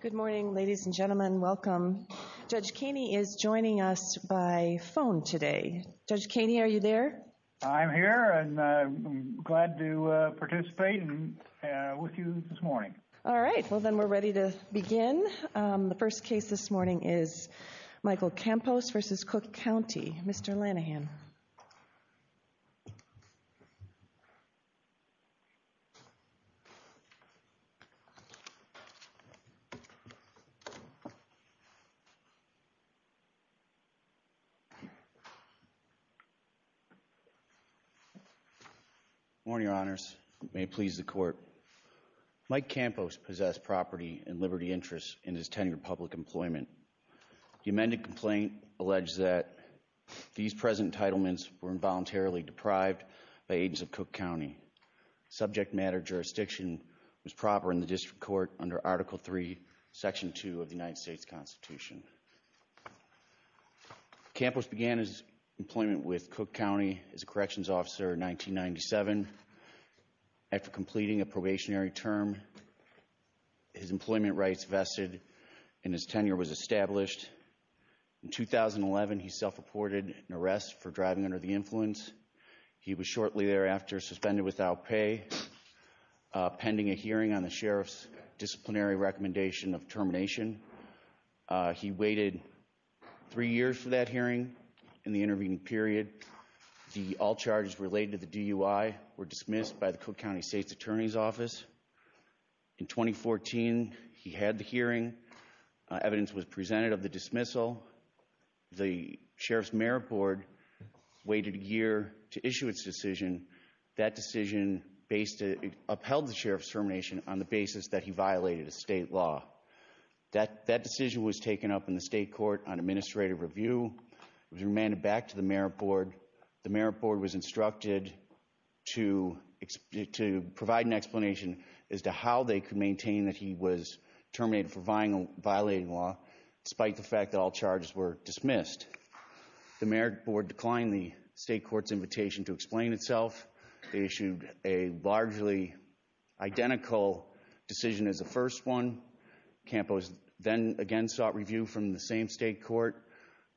Good morning, ladies and gentlemen. Welcome. Judge Kaney is joining us by phone today. Judge Kaney, are you there? I'm here, and I'm glad to participate with you this morning. All right. Well, then we're ready to begin. The first case this morning is Michael Campos v. Cook County. Mr. Lanahan. Good morning, Your Honors. May it please the Court. Mike Campos possessed property and liberty interests in his tenured public employment. The amended complaint alleged that these present entitlements were involuntarily deprived by agents of Cook County. Subject matter jurisdiction was proper in the District Court under Article III, Section 2 of the United States Constitution. Campos began his employment with Cook County as a corrections officer in 1997. After completing a probationary term, his employment rights vested in his tenure was established. In 2011, he self-reported an arrest for driving under the influence. He was shortly thereafter suspended without pay pending a hearing on the sheriff's disciplinary recommendation of termination. He waited three years for that hearing. In the intervening period, the all charges related to the DUI were dismissed by the Cook County State's Attorney's Office. In 2014, he had the hearing. Evidence was presented of the dismissal. The Sheriff's Merit Board waited a year to issue its decision. That decision upheld the Sheriff's termination on the basis that he violated a state law. That decision was taken up in the State Court on administrative review. It was remanded back to the Merit Board. The Merit Board was instructed to provide an explanation as to how they could maintain that he was terminated for violating law, despite the fact that all charges were dismissed. The Merit Board declined the State Court's invitation to explain itself. They issued a largely identical decision as the first one. Campos then again sought review from the same State Court.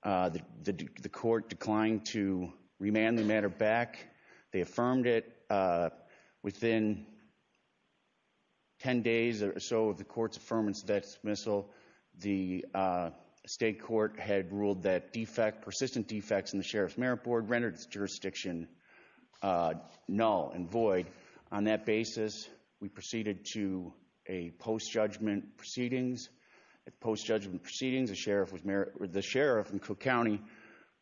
The Court declined to remand the matter back. They affirmed it. Within 10 days or so of the Court's affirmance of that dismissal, the State Court had ruled that persistent defects in the Sheriff's Merit Board rendered its jurisdiction null and void. On that basis, we proceeded to a post-judgment proceedings. At post-judgment proceedings, the Sheriff and Cook County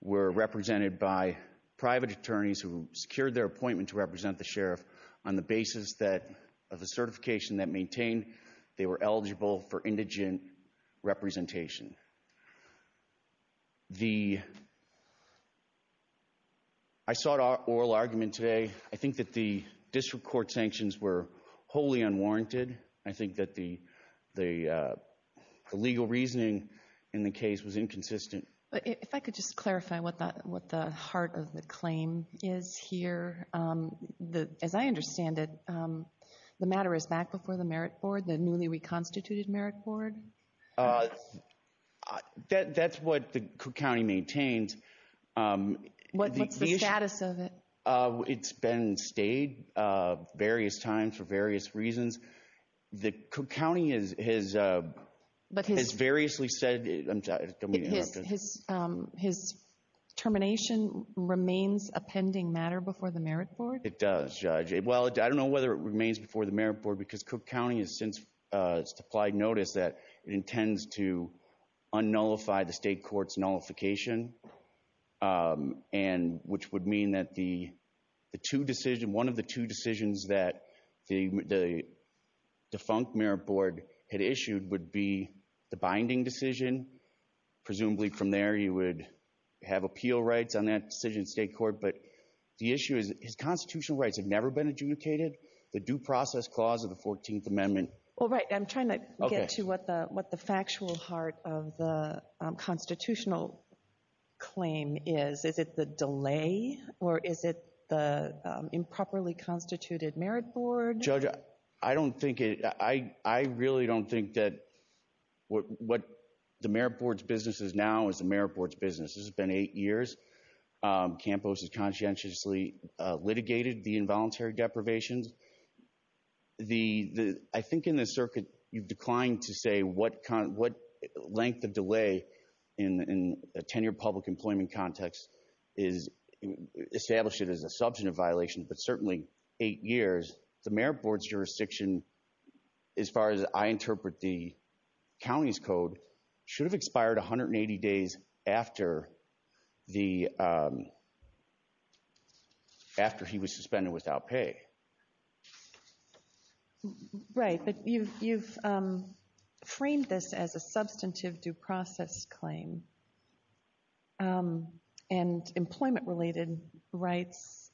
were represented by private attorneys who secured their appointment to represent the Sheriff on the basis of the certification that maintained they were eligible for indigent representation. I sought oral argument today. I think that the district court sanctions were wholly unwarranted. I think that the legal reasoning in the case was inconsistent. If I could just clarify what the heart of the claim is here. As I understand it, the matter is back before the Merit Board, the newly reconstituted Merit Board? That's what the Cook County maintains. What's the status of it? It's been stayed various times for various reasons. The Cook County has variously said— His termination remains a pending matter before the Merit Board? It does, Judge. Well, I don't know whether it remains before the Merit Board because Cook County has since supplied notice that it intends to un-nullify the State Court's nullification, which would mean that one of the two decisions that the defunct Merit Board had issued would be the binding decision. Presumably from there you would have appeal rights on that decision in State Court. But the issue is that his constitutional rights have never been adjudicated. The Due Process Clause of the 14th Amendment— I'm trying to get to what the factual heart of the constitutional claim is. Is it the delay or is it the improperly constituted Merit Board? Judge, I really don't think that what the Merit Board's business is now is the Merit Board's business. This has been eight years. Campos has conscientiously litigated the involuntary deprivations. I think in the circuit you've declined to say what length of delay in a ten-year public employment context is established as a substantive violation, but certainly eight years. The Merit Board's jurisdiction, as far as I interpret the county's code, should have expired 180 days after he was suspended without pay. Right, but you've framed this as a substantive due process claim. And employment-related rights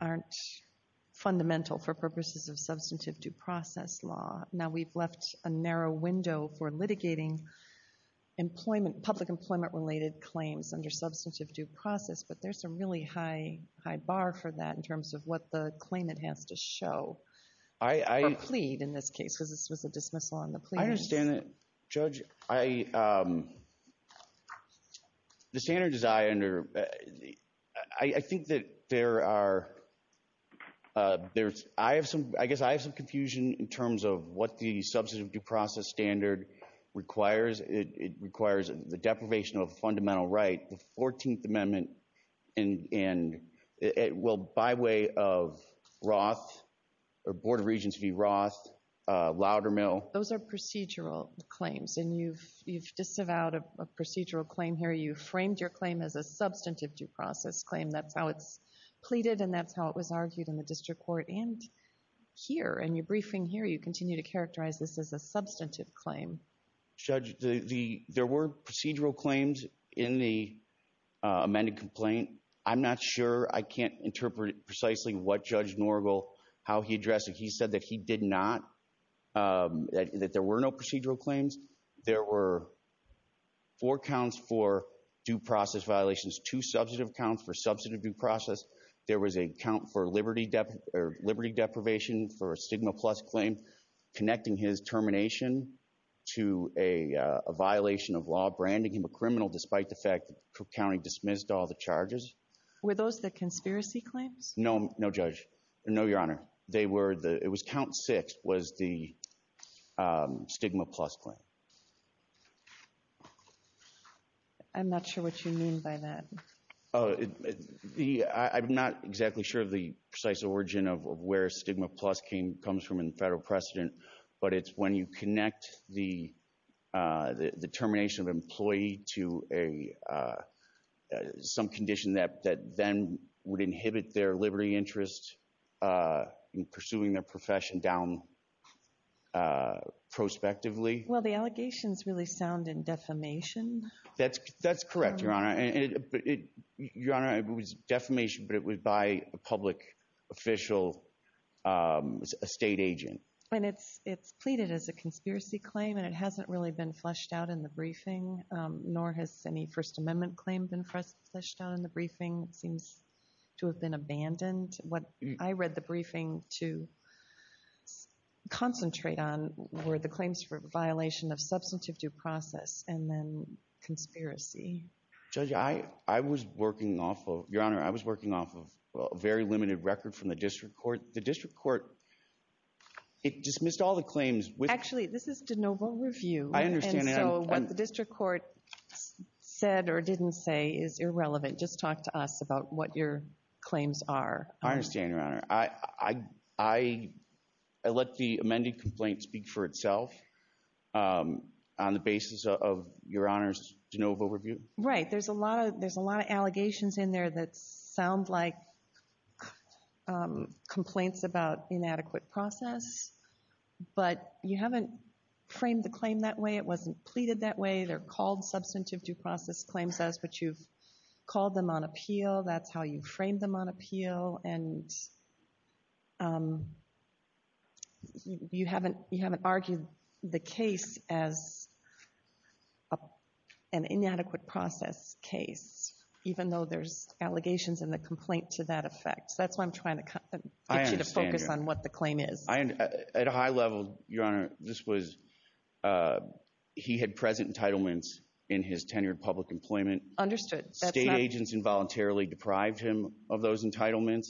aren't fundamental for purposes of substantive due process law. Now, we've left a narrow window for litigating public employment-related claims under substantive due process, but there's a really high bar for that in terms of what the claimant has to show or plead in this case, because this was a dismissal on the plea. I understand that, Judge. Judge, the standards I under—I think that there are—I guess I have some confusion in terms of what the substantive due process standard requires. It requires the deprivation of a fundamental right, the 14th Amendment, and it will, by way of Roth, or Board of Regents v. Roth, Loudermill— those are procedural claims, and you've disavowed a procedural claim here. You framed your claim as a substantive due process claim. That's how it's pleaded, and that's how it was argued in the district court and here. In your briefing here, you continue to characterize this as a substantive claim. Judge, there were procedural claims in the amended complaint. I'm not sure—I can't interpret precisely what Judge Norgal—how he addressed it. He said that he did not—that there were no procedural claims. There were four counts for due process violations, two substantive counts for substantive due process. There was a count for liberty deprivation for a stigma-plus claim connecting his termination to a violation of law branding him a criminal despite the fact that Cook County dismissed all the charges. Were those the conspiracy claims? No, Judge. No, Your Honor. They were—it was count six was the stigma-plus claim. I'm not sure what you mean by that. I'm not exactly sure of the precise origin of where stigma-plus comes from in the federal precedent, but it's when you connect the termination of an employee to some condition that then would inhibit their liberty interest in pursuing their profession down prospectively. Well, the allegations really sound in defamation. That's correct, Your Honor. Your Honor, it was defamation, but it was by a public official, a state agent. And it's pleaded as a conspiracy claim, and it hasn't really been fleshed out in the briefing, nor has any First Amendment claim been fleshed out in the briefing. It seems to have been abandoned. What I read the briefing to concentrate on were the claims for a violation of substantive due process and then conspiracy. Judge, I was working off of—Your Honor, I was working off of a very limited record from the district court. The district court, it dismissed all the claims with— Actually, this is de novo review. I understand that. And so what the district court said or didn't say is irrelevant. Just talk to us about what your claims are. I understand, Your Honor. I let the amended complaint speak for itself on the basis of Your Honor's de novo review. Right. There's a lot of allegations in there that sound like complaints about inadequate process, but you haven't framed the claim that way. It wasn't pleaded that way. They're called substantive due process claims as what you've called them on appeal. That's how you framed them on appeal. And you haven't argued the case as an inadequate process case, even though there's allegations in the complaint to that effect. That's why I'm trying to get you to focus on what the claim is. At a high level, Your Honor, this was—he had present entitlements in his tenure in public employment. Understood. State agents involuntarily deprived him of those entitlements.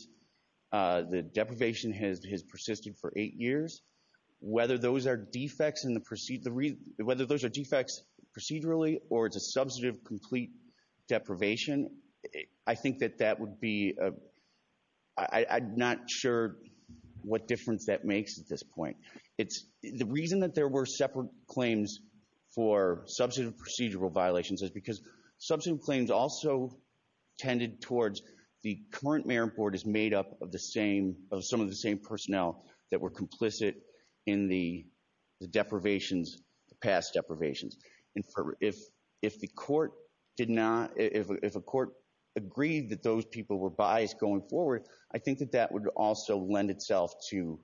The deprivation has persisted for eight years. Whether those are defects procedurally or it's a substantive complete deprivation, I think that that would be—I'm not sure what difference that makes at this point. The reason that there were separate claims for substantive procedural violations is because substantive claims also tended towards the current mayor and board is made up of some of the same personnel that were complicit in the deprivations, the past deprivations. If the court did not—if a court agreed that those people were biased going forward, I think that that would also lend itself to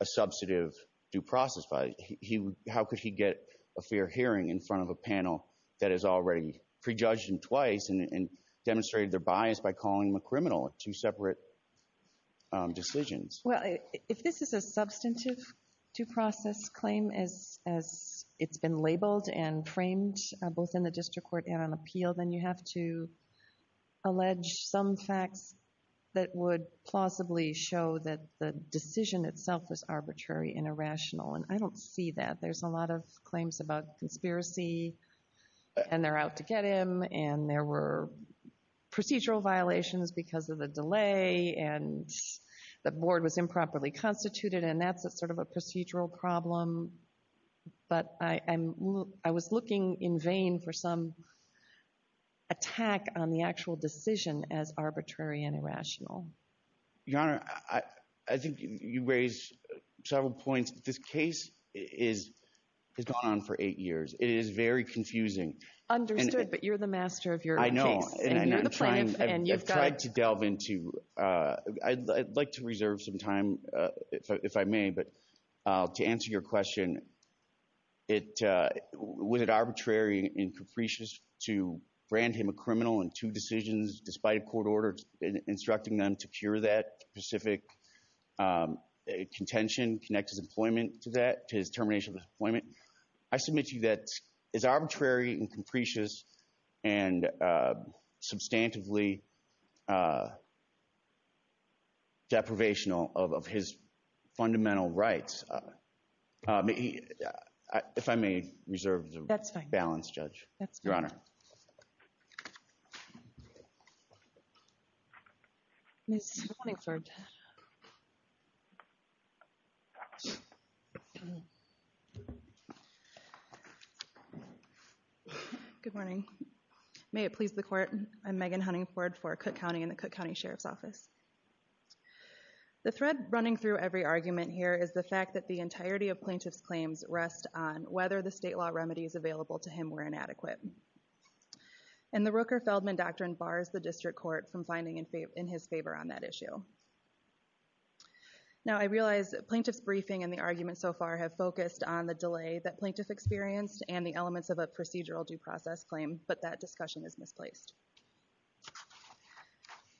a substantive due process. How could he get a fair hearing in front of a panel that has already prejudged him twice and demonstrated their bias by calling him a criminal? Two separate decisions. Well, if this is a substantive due process claim as it's been labeled and framed both in the district court and on appeal, then you have to allege some facts that would plausibly show that the decision itself was arbitrary and irrational, and I don't see that. There's a lot of claims about conspiracy, and they're out to get him, and there were procedural violations because of the delay, and the board was improperly constituted, and that's sort of a procedural problem. But I was looking in vain for some attack on the actual decision as arbitrary and irrational. Your Honor, I think you raise several points. This case has gone on for eight years. It is very confusing. I know. And you're the plaintiff, and you've got— I've tried to delve into—I'd like to reserve some time if I may, but to answer your question, was it arbitrary and capricious to brand him a criminal in two decisions despite a court order instructing them to cure that specific contention, connect his employment to that, to his termination of his employment? I submit to you that it's arbitrary and capricious and substantively deprivational of his fundamental rights. If I may reserve the balance, Judge. That's fine. Good morning, Judge. Good morning. May it please the Court, I'm Megan Huntingford for Cook County and the Cook County Sheriff's Office. The thread running through every argument here is the fact that the entirety of plaintiff's claims rest on whether the state law remedies available to him were inadequate. And the Rooker-Feldman Doctrine bars the district court from finding in his favor on that issue. Now, I realize plaintiff's briefing and the argument so far have focused on the delay that plaintiff experienced and the elements of a procedural due process claim, but that discussion is misplaced.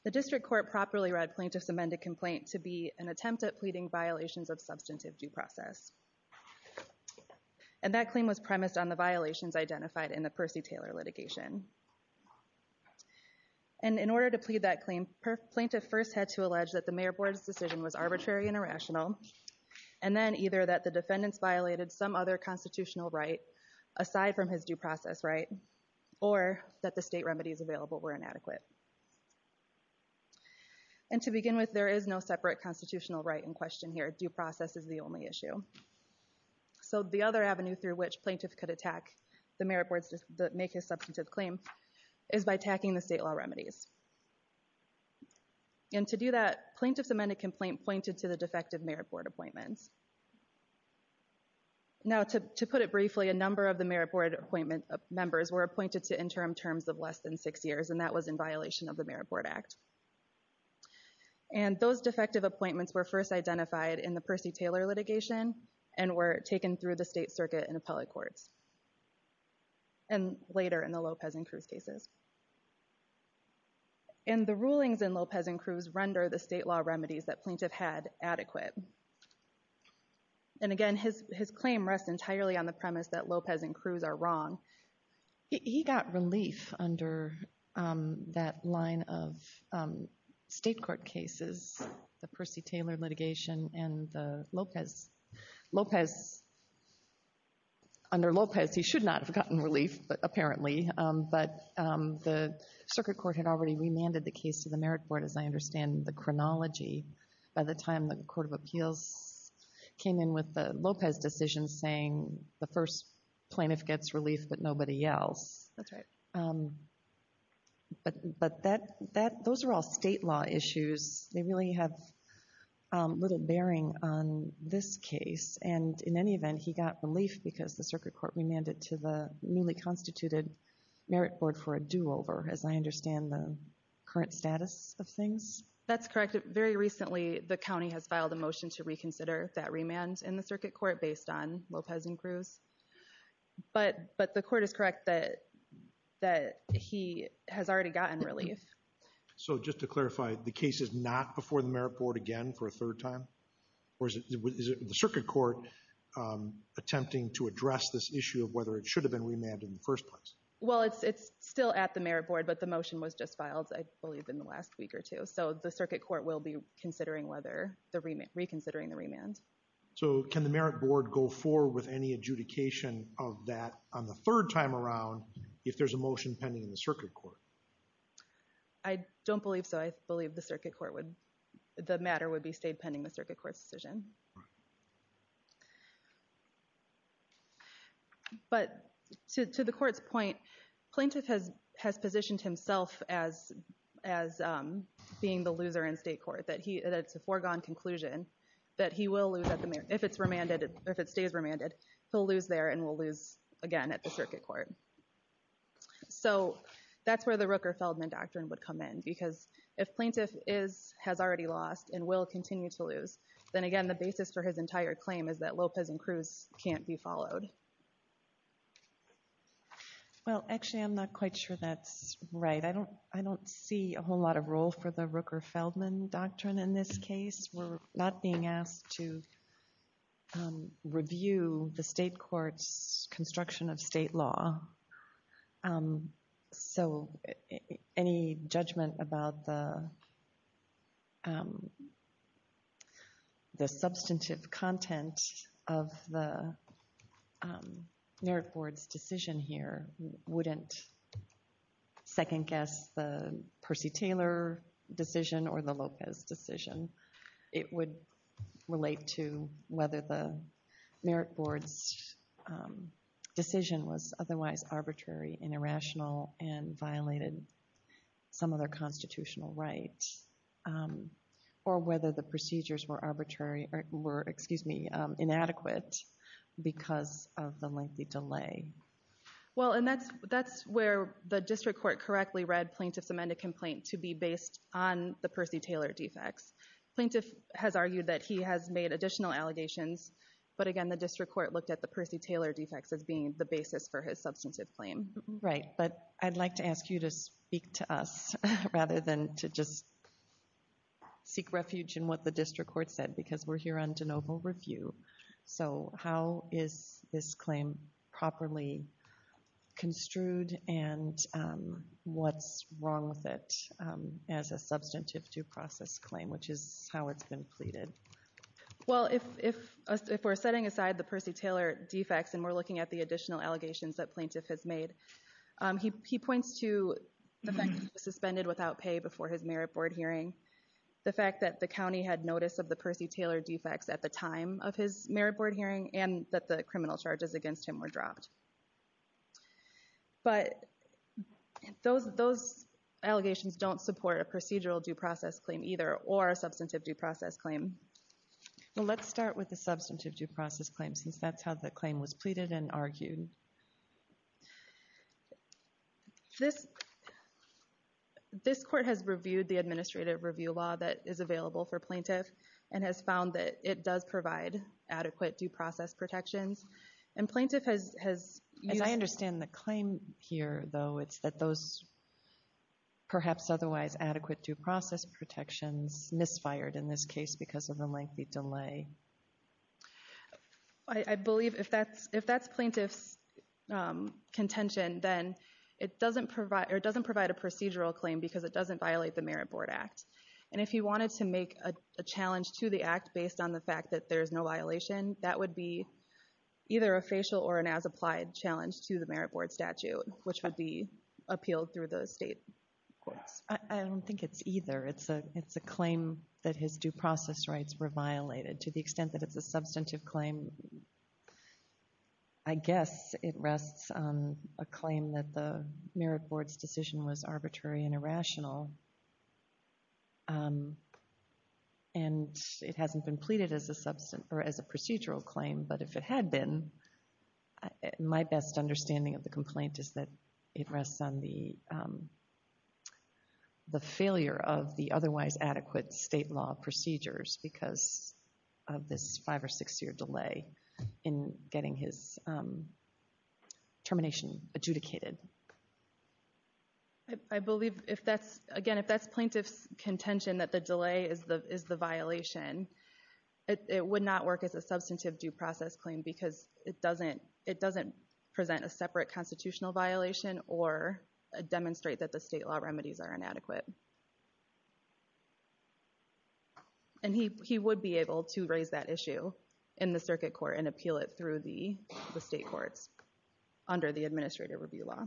The district court properly read plaintiff's amended complaint to be an attempt at pleading violations of substantive due process. And that claim was premised on the violations identified in the Percy Taylor litigation. And in order to plead that claim, plaintiff first had to allege that the Mayor Board's decision was arbitrary and irrational and then either that the defendants violated some other constitutional right aside from his due process right or that the state remedies available were inadequate. And to begin with, there is no separate constitutional right in question here. Due process is the only issue. So the other avenue through which plaintiff could attack the Mayor Board's, make his substantive claim is by attacking the state law remedies. And to do that, plaintiff's amended complaint pointed to the defective Mayor Board appointments. Now, to put it briefly, a number of the Mayor Board appointment members were appointed to interim terms of less than six years and that was in violation of the Mayor Board Act. And those defective appointments were first identified in the Percy Taylor litigation and were taken through the state circuit and appellate courts. And later in the Lopez and Cruz cases. And the rulings in Lopez and Cruz render the state law remedies that plaintiff had adequate. And again, his claim rests entirely on the premise that Lopez and Cruz are wrong. He got relief under that line of state court cases, the Percy Taylor litigation and the Lopez. Lopez, under Lopez, he should not have gotten relief, apparently. But the circuit court had already remanded the case to the Mayor Board, as I understand the chronology. By the time the Court of Appeals came in with the Lopez decision saying the first plaintiff gets relief but nobody else. That's right. But those are all state law issues. They really have little bearing on this case. And in any event, he got relief because the circuit court remanded it to the newly constituted Merit Board for a do-over, as I understand the current status of things. That's correct. Very recently, the county has filed a motion to reconsider that remand in the circuit court based on Lopez and Cruz. But the court is correct that he has already gotten relief. So just to clarify, the case is not before the Merit Board again for a third time? Or is the circuit court attempting to address this issue of whether it should have been remanded in the first place? Well, it's still at the Merit Board, but the motion was just filed, I believe, in the last week or two. So the circuit court will be reconsidering the remand. So can the Merit Board go forward with any adjudication of that on the third time around if there's a motion pending in the circuit court? I don't believe so. I believe the matter would be stayed pending the circuit court's decision. But to the court's point, plaintiff has positioned himself as being the loser in state court. That it's a foregone conclusion that if it stays remanded, he'll lose there and will lose again at the circuit court. So that's where the Rooker-Feldman Doctrine would come in. Because if plaintiff has already lost and will continue to lose, then again, the basis for his entire claim is that Lopez and Cruz can't be followed. Well, actually, I'm not quite sure that's right. I don't see a whole lot of role for the Rooker-Feldman Doctrine in this case. We're not being asked to review the state court's construction of state law. So any judgment about the substantive content of the Merit Board's decision here wouldn't second-guess the Percy Taylor decision or the Lopez decision. It would relate to whether the Merit Board's decision was otherwise arbitrary and irrational and violated some of their constitutional rights. Or whether the procedures were inadequate because of the lengthy delay. Well, and that's where the district court correctly read plaintiff's amended complaint to be based on the Percy Taylor defects. Plaintiff has argued that he has made additional allegations. But again, the district court looked at the Percy Taylor defects as being the basis for his substantive claim. Right, but I'd like to ask you to speak to us rather than to just seek refuge in what the district court said because we're here on de novo review. So how is this claim properly construed and what's wrong with it as a substantive due process claim, which is how it's been pleaded? Well, if we're setting aside the Percy Taylor defects and we're looking at the additional allegations that plaintiff has made, he points to the fact that he was suspended without pay before his Merit Board hearing, the fact that the county had notice of the Percy Taylor defects at the time of his Merit Board hearing, and that the criminal charges against him were dropped. But those allegations don't support a procedural due process claim either or a substantive due process claim. Well, let's start with the substantive due process claim since that's how the claim was pleaded and argued. This court has reviewed the administrative review law that is available for plaintiff and has found that it does provide adequate due process protections. And plaintiff has... As I understand the claim here, though, it's that those perhaps otherwise adequate due process protections misfired in this case because of the lengthy delay. I believe if that's plaintiff's contention, then it doesn't provide a procedural claim because it doesn't violate the Merit Board Act. And if he wanted to make a challenge to the act based on the fact that there's no violation, that would be either a facial or an as-applied challenge to the Merit Board statute, which would be appealed through those state courts. I don't think it's either. It's a claim that his due process rights were violated. To the extent that it's a substantive claim, I guess it rests on a claim that the Merit Board's decision was arbitrary and irrational, and it hasn't been pleaded as a procedural claim. But if it had been, my best understanding of the complaint is that it rests on the failure of the otherwise adequate state law procedures because of this five- or six-year delay in getting his termination adjudicated. I believe, again, if that's plaintiff's contention that the delay is the violation, it would not work as a substantive due process claim because it doesn't present a separate constitutional violation or demonstrate that the state law remedies are inadequate. And he would be able to raise that issue in the circuit court and appeal it through the state courts under the Administrative Review Law.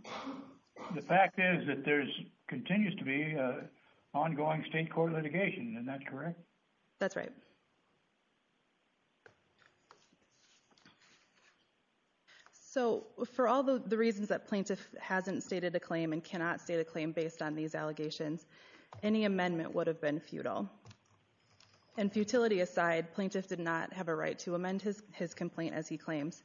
The fact is that there continues to be ongoing state court litigation. Isn't that correct? That's right. So, for all the reasons that plaintiff hasn't stated a claim and cannot state a claim based on these allegations, any amendment would have been futile. And futility aside, plaintiff did not have a right to amend his complaint as he claims.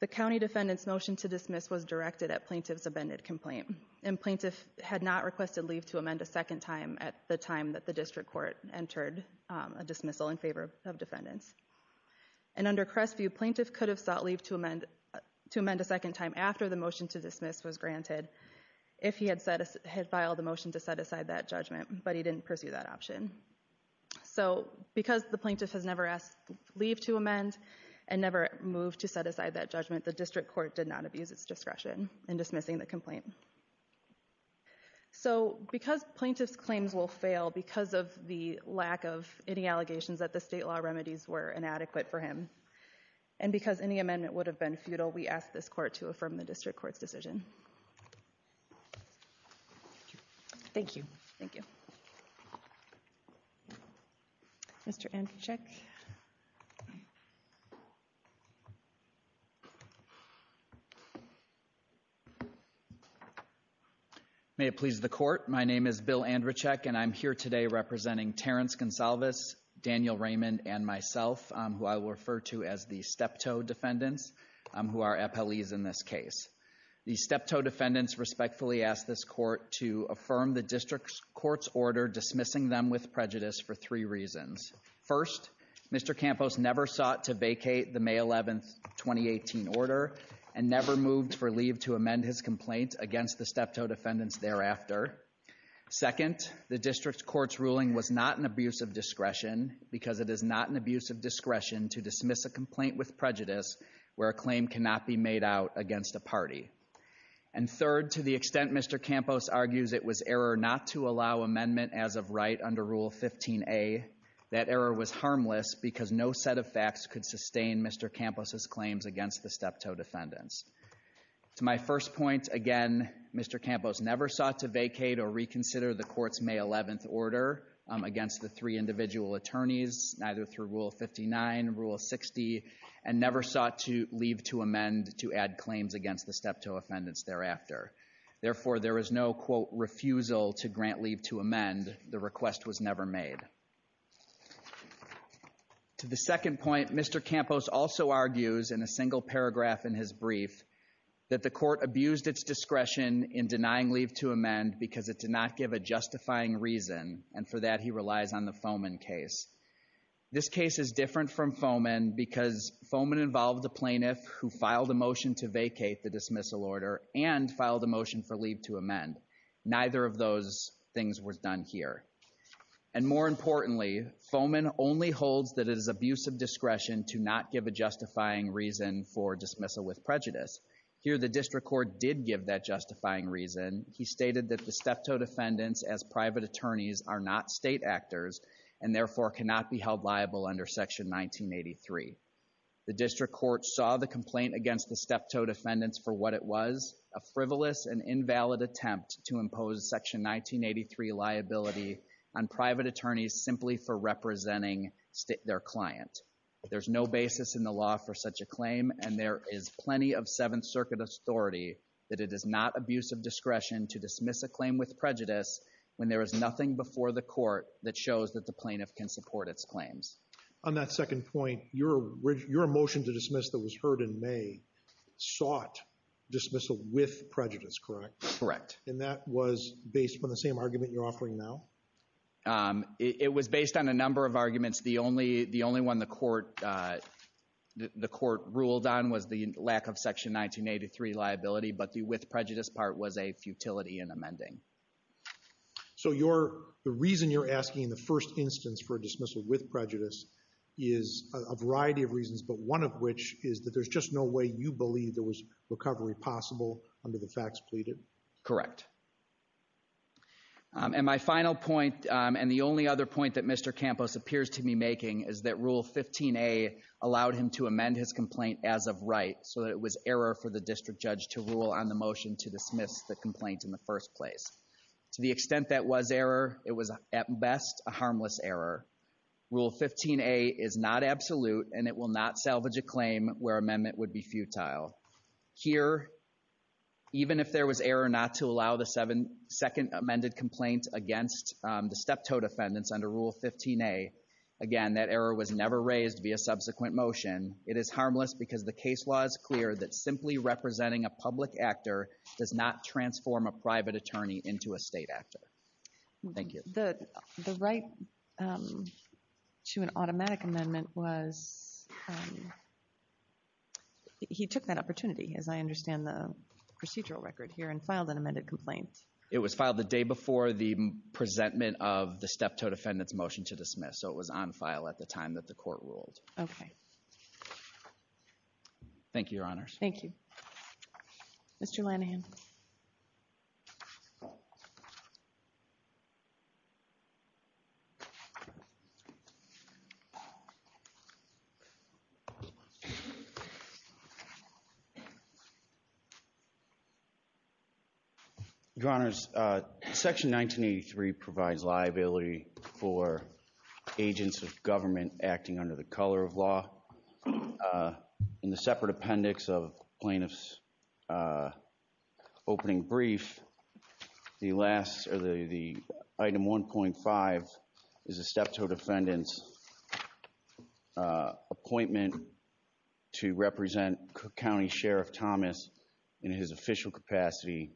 The county defendant's motion to dismiss was directed at plaintiff's amended complaint. And plaintiff had not requested leave to amend a second time at the time that the district court entered a dismissal in favor of defendants. And under Crestview, plaintiff could have sought leave to amend a second time after the motion to dismiss was granted if he had filed a motion to set aside that judgment, but he didn't pursue that option. So, because the plaintiff has never asked leave to amend and never moved to set aside that judgment, the district court did not abuse its discretion in dismissing the complaint. So, because plaintiff's claims will fail because of the lack of any allegations that the state law remedies were inadequate for him, and because any amendment would have been futile, we ask this court to affirm the district court's decision. Thank you. Thank you. Mr. Andrzejczyk. May it please the court, my name is Bill Andrzejczyk, and I'm here today representing Terrence Gonsalves, Daniel Raymond, and myself, who I will refer to as the steptoe defendants, who are appellees in this case. The steptoe defendants respectfully ask this court to affirm the district court's order dismissing them with prejudice for three reasons. First, Mr. Campos never sought to vacate the May 11, 2018 order, and never moved for leave to amend his complaint against the steptoe defendants thereafter. Second, the district court's ruling was not an abuse of discretion, because it is not an abuse of discretion to dismiss a complaint with prejudice where a claim cannot be made out against a party. And third, to the extent Mr. Campos argues it was error not to allow amendment as of right under Rule 15a, that error was harmless because no set of facts could sustain Mr. Campos' claims against the steptoe defendants. To my first point, again, Mr. Campos never sought to vacate or reconsider the court's May 11 order against the three individual attorneys, either through Rule 59, Rule 60, and never sought to leave to amend to add claims against the steptoe defendants thereafter. Therefore, there is no, quote, refusal to grant leave to amend. The request was never made. To the second point, Mr. Campos also argues in a single paragraph in his brief that the court abused its discretion in denying leave to amend because it did not give a justifying reason, and for that he relies on the Fomen case. This case is different from Fomen because Fomen involved a plaintiff who filed a motion to vacate the dismissal order and filed a motion for leave to amend. Neither of those things was done here. And more importantly, Fomen only holds that it is abuse of discretion to not give a justifying reason for dismissal with prejudice. Here the district court did give that justifying reason. He stated that the steptoe defendants as private attorneys are not state actors and therefore cannot be held liable under Section 1983. The district court saw the complaint against the steptoe defendants for what it was, a frivolous and invalid attempt to impose Section 1983 liability on private attorneys simply for representing their client. There's no basis in the law for such a claim, and there is plenty of Seventh Circuit authority that it is not abuse of discretion to dismiss a claim with prejudice when there is nothing before the court that shows that the plaintiff can support its claims. On that second point, your motion to dismiss that was heard in May sought dismissal with prejudice, correct? Correct. And that was based on the same argument you're offering now? It was based on a number of arguments. The only one the court ruled on was the lack of Section 1983 liability, but the with prejudice part was a futility in amending. So the reason you're asking in the first instance for a dismissal with prejudice is a variety of reasons, but one of which is that there's just no way you believe there was recovery possible under the facts pleaded? Correct. And my final point, and the only other point that Mr. Campos appears to be making, is that Rule 15a allowed him to amend his complaint as of right so that it was error for the district judge to rule on the motion to dismiss the complaint in the first place. To the extent that was error, it was at best a harmless error. Rule 15a is not absolute, and it will not salvage a claim where amendment would be futile. Here, even if there was error not to allow the second amended complaint against the steptoe defendants under Rule 15a, again, that error was never raised via subsequent motion. It is harmless because the case law is clear that simply representing a public actor does not transform a private attorney into a state actor. Thank you. The right to an automatic amendment was he took that opportunity, as I understand the procedural record here, and filed an amended complaint. It was filed the day before the presentment of the steptoe defendant's motion to dismiss, so it was on file at the time that the court ruled. Okay. Thank you, Your Honors. Thank you. Mr. Lanahan. Your Honors, Section 1983 provides liability for agents of government acting under the color of law. In the separate appendix of plaintiff's opening brief, the item 1.5 is a steptoe defendant's appointment to represent County Sheriff Thomas in his official capacity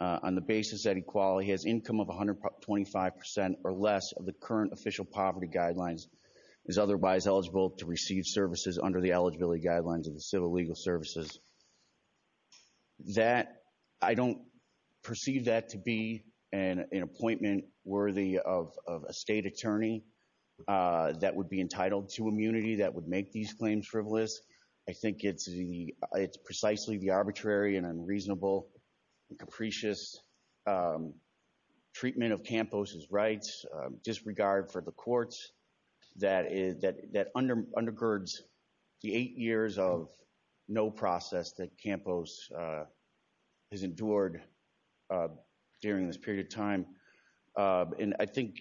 on the basis that he has income of 125% or less of the current official poverty guidelines, is otherwise eligible to receive services under the eligibility guidelines of the civil legal services. I don't perceive that to be an appointment worthy of a state attorney that would be entitled to immunity that would make these claims frivolous. I think it's precisely the arbitrary and unreasonable and capricious treatment of Campos' rights disregard for the courts that undergirds the eight years of no process that Campos has endured during this period of time. And I think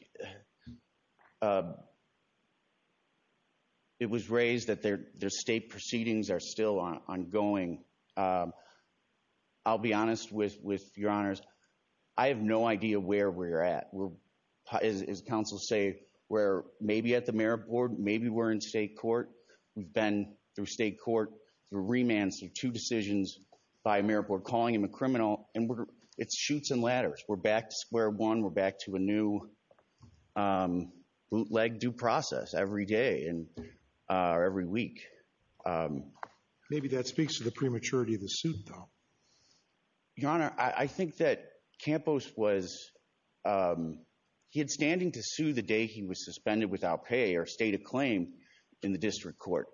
it was raised that their state proceedings are still ongoing. I'll be honest with Your Honors. I have no idea where we're at. As counsels say, we're maybe at the Mayor Board, maybe we're in state court. We've been through state court, through remand, through two decisions by Mayor Board, calling him a criminal, and it shoots and ladders. We're back to square one. We're back to a new bootleg due process every day or every week. Maybe that speaks to the prematurity of the suit, though. Your Honor, I think that Campos was, he had standing to sue the day he was suspended without pay or state of claim in the district court.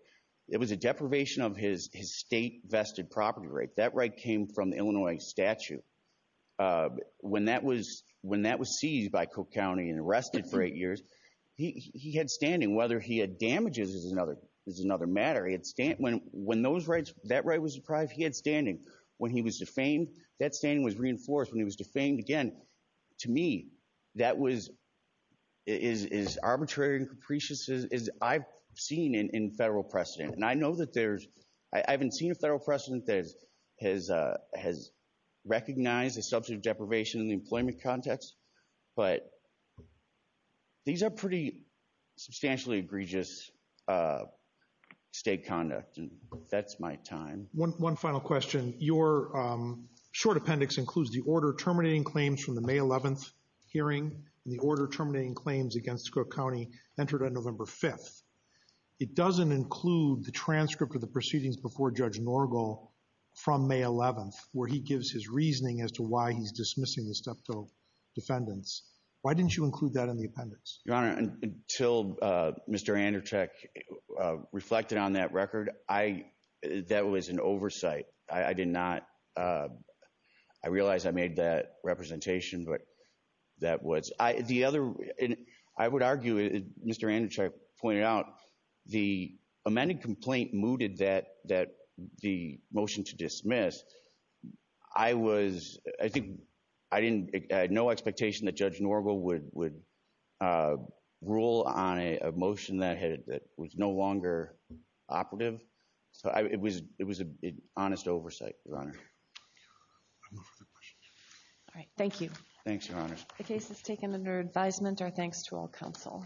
It was a deprivation of his state vested property right. That right came from the Illinois statute. When that was seized by Cook County and arrested for eight years, he had standing. Whether he had damages is another matter. When that right was deprived, he had standing. When he was defamed, that standing was reinforced. When he was defamed again, to me, that was as arbitrary and capricious as I've seen in federal precedent. And I know that there's, I haven't seen a federal precedent that has recognized a substantive deprivation in the employment context. But these are pretty substantially egregious state conduct, and that's my time. One final question. Your short appendix includes the order terminating claims from the May 11th hearing, and the order terminating claims against Cook County entered on November 5th. It doesn't include the transcript of the proceedings before Judge Norgal from May 11th, where he gives his reasoning as to why he's dismissing the steptoe defendants. Why didn't you include that in the appendix? Your Honor, until Mr. Andercheck reflected on that record, I, that was an oversight. I did not, I realize I made that representation, but that was. I would argue, as Mr. Andercheck pointed out, the amended complaint mooted the motion to dismiss. I was, I think, I had no expectation that Judge Norgal would rule on a motion that was no longer operative. So it was an honest oversight, Your Honor. I move for the question. All right, thank you. Thanks, Your Honor. The case is taken under advisement. Our thanks to all counsel.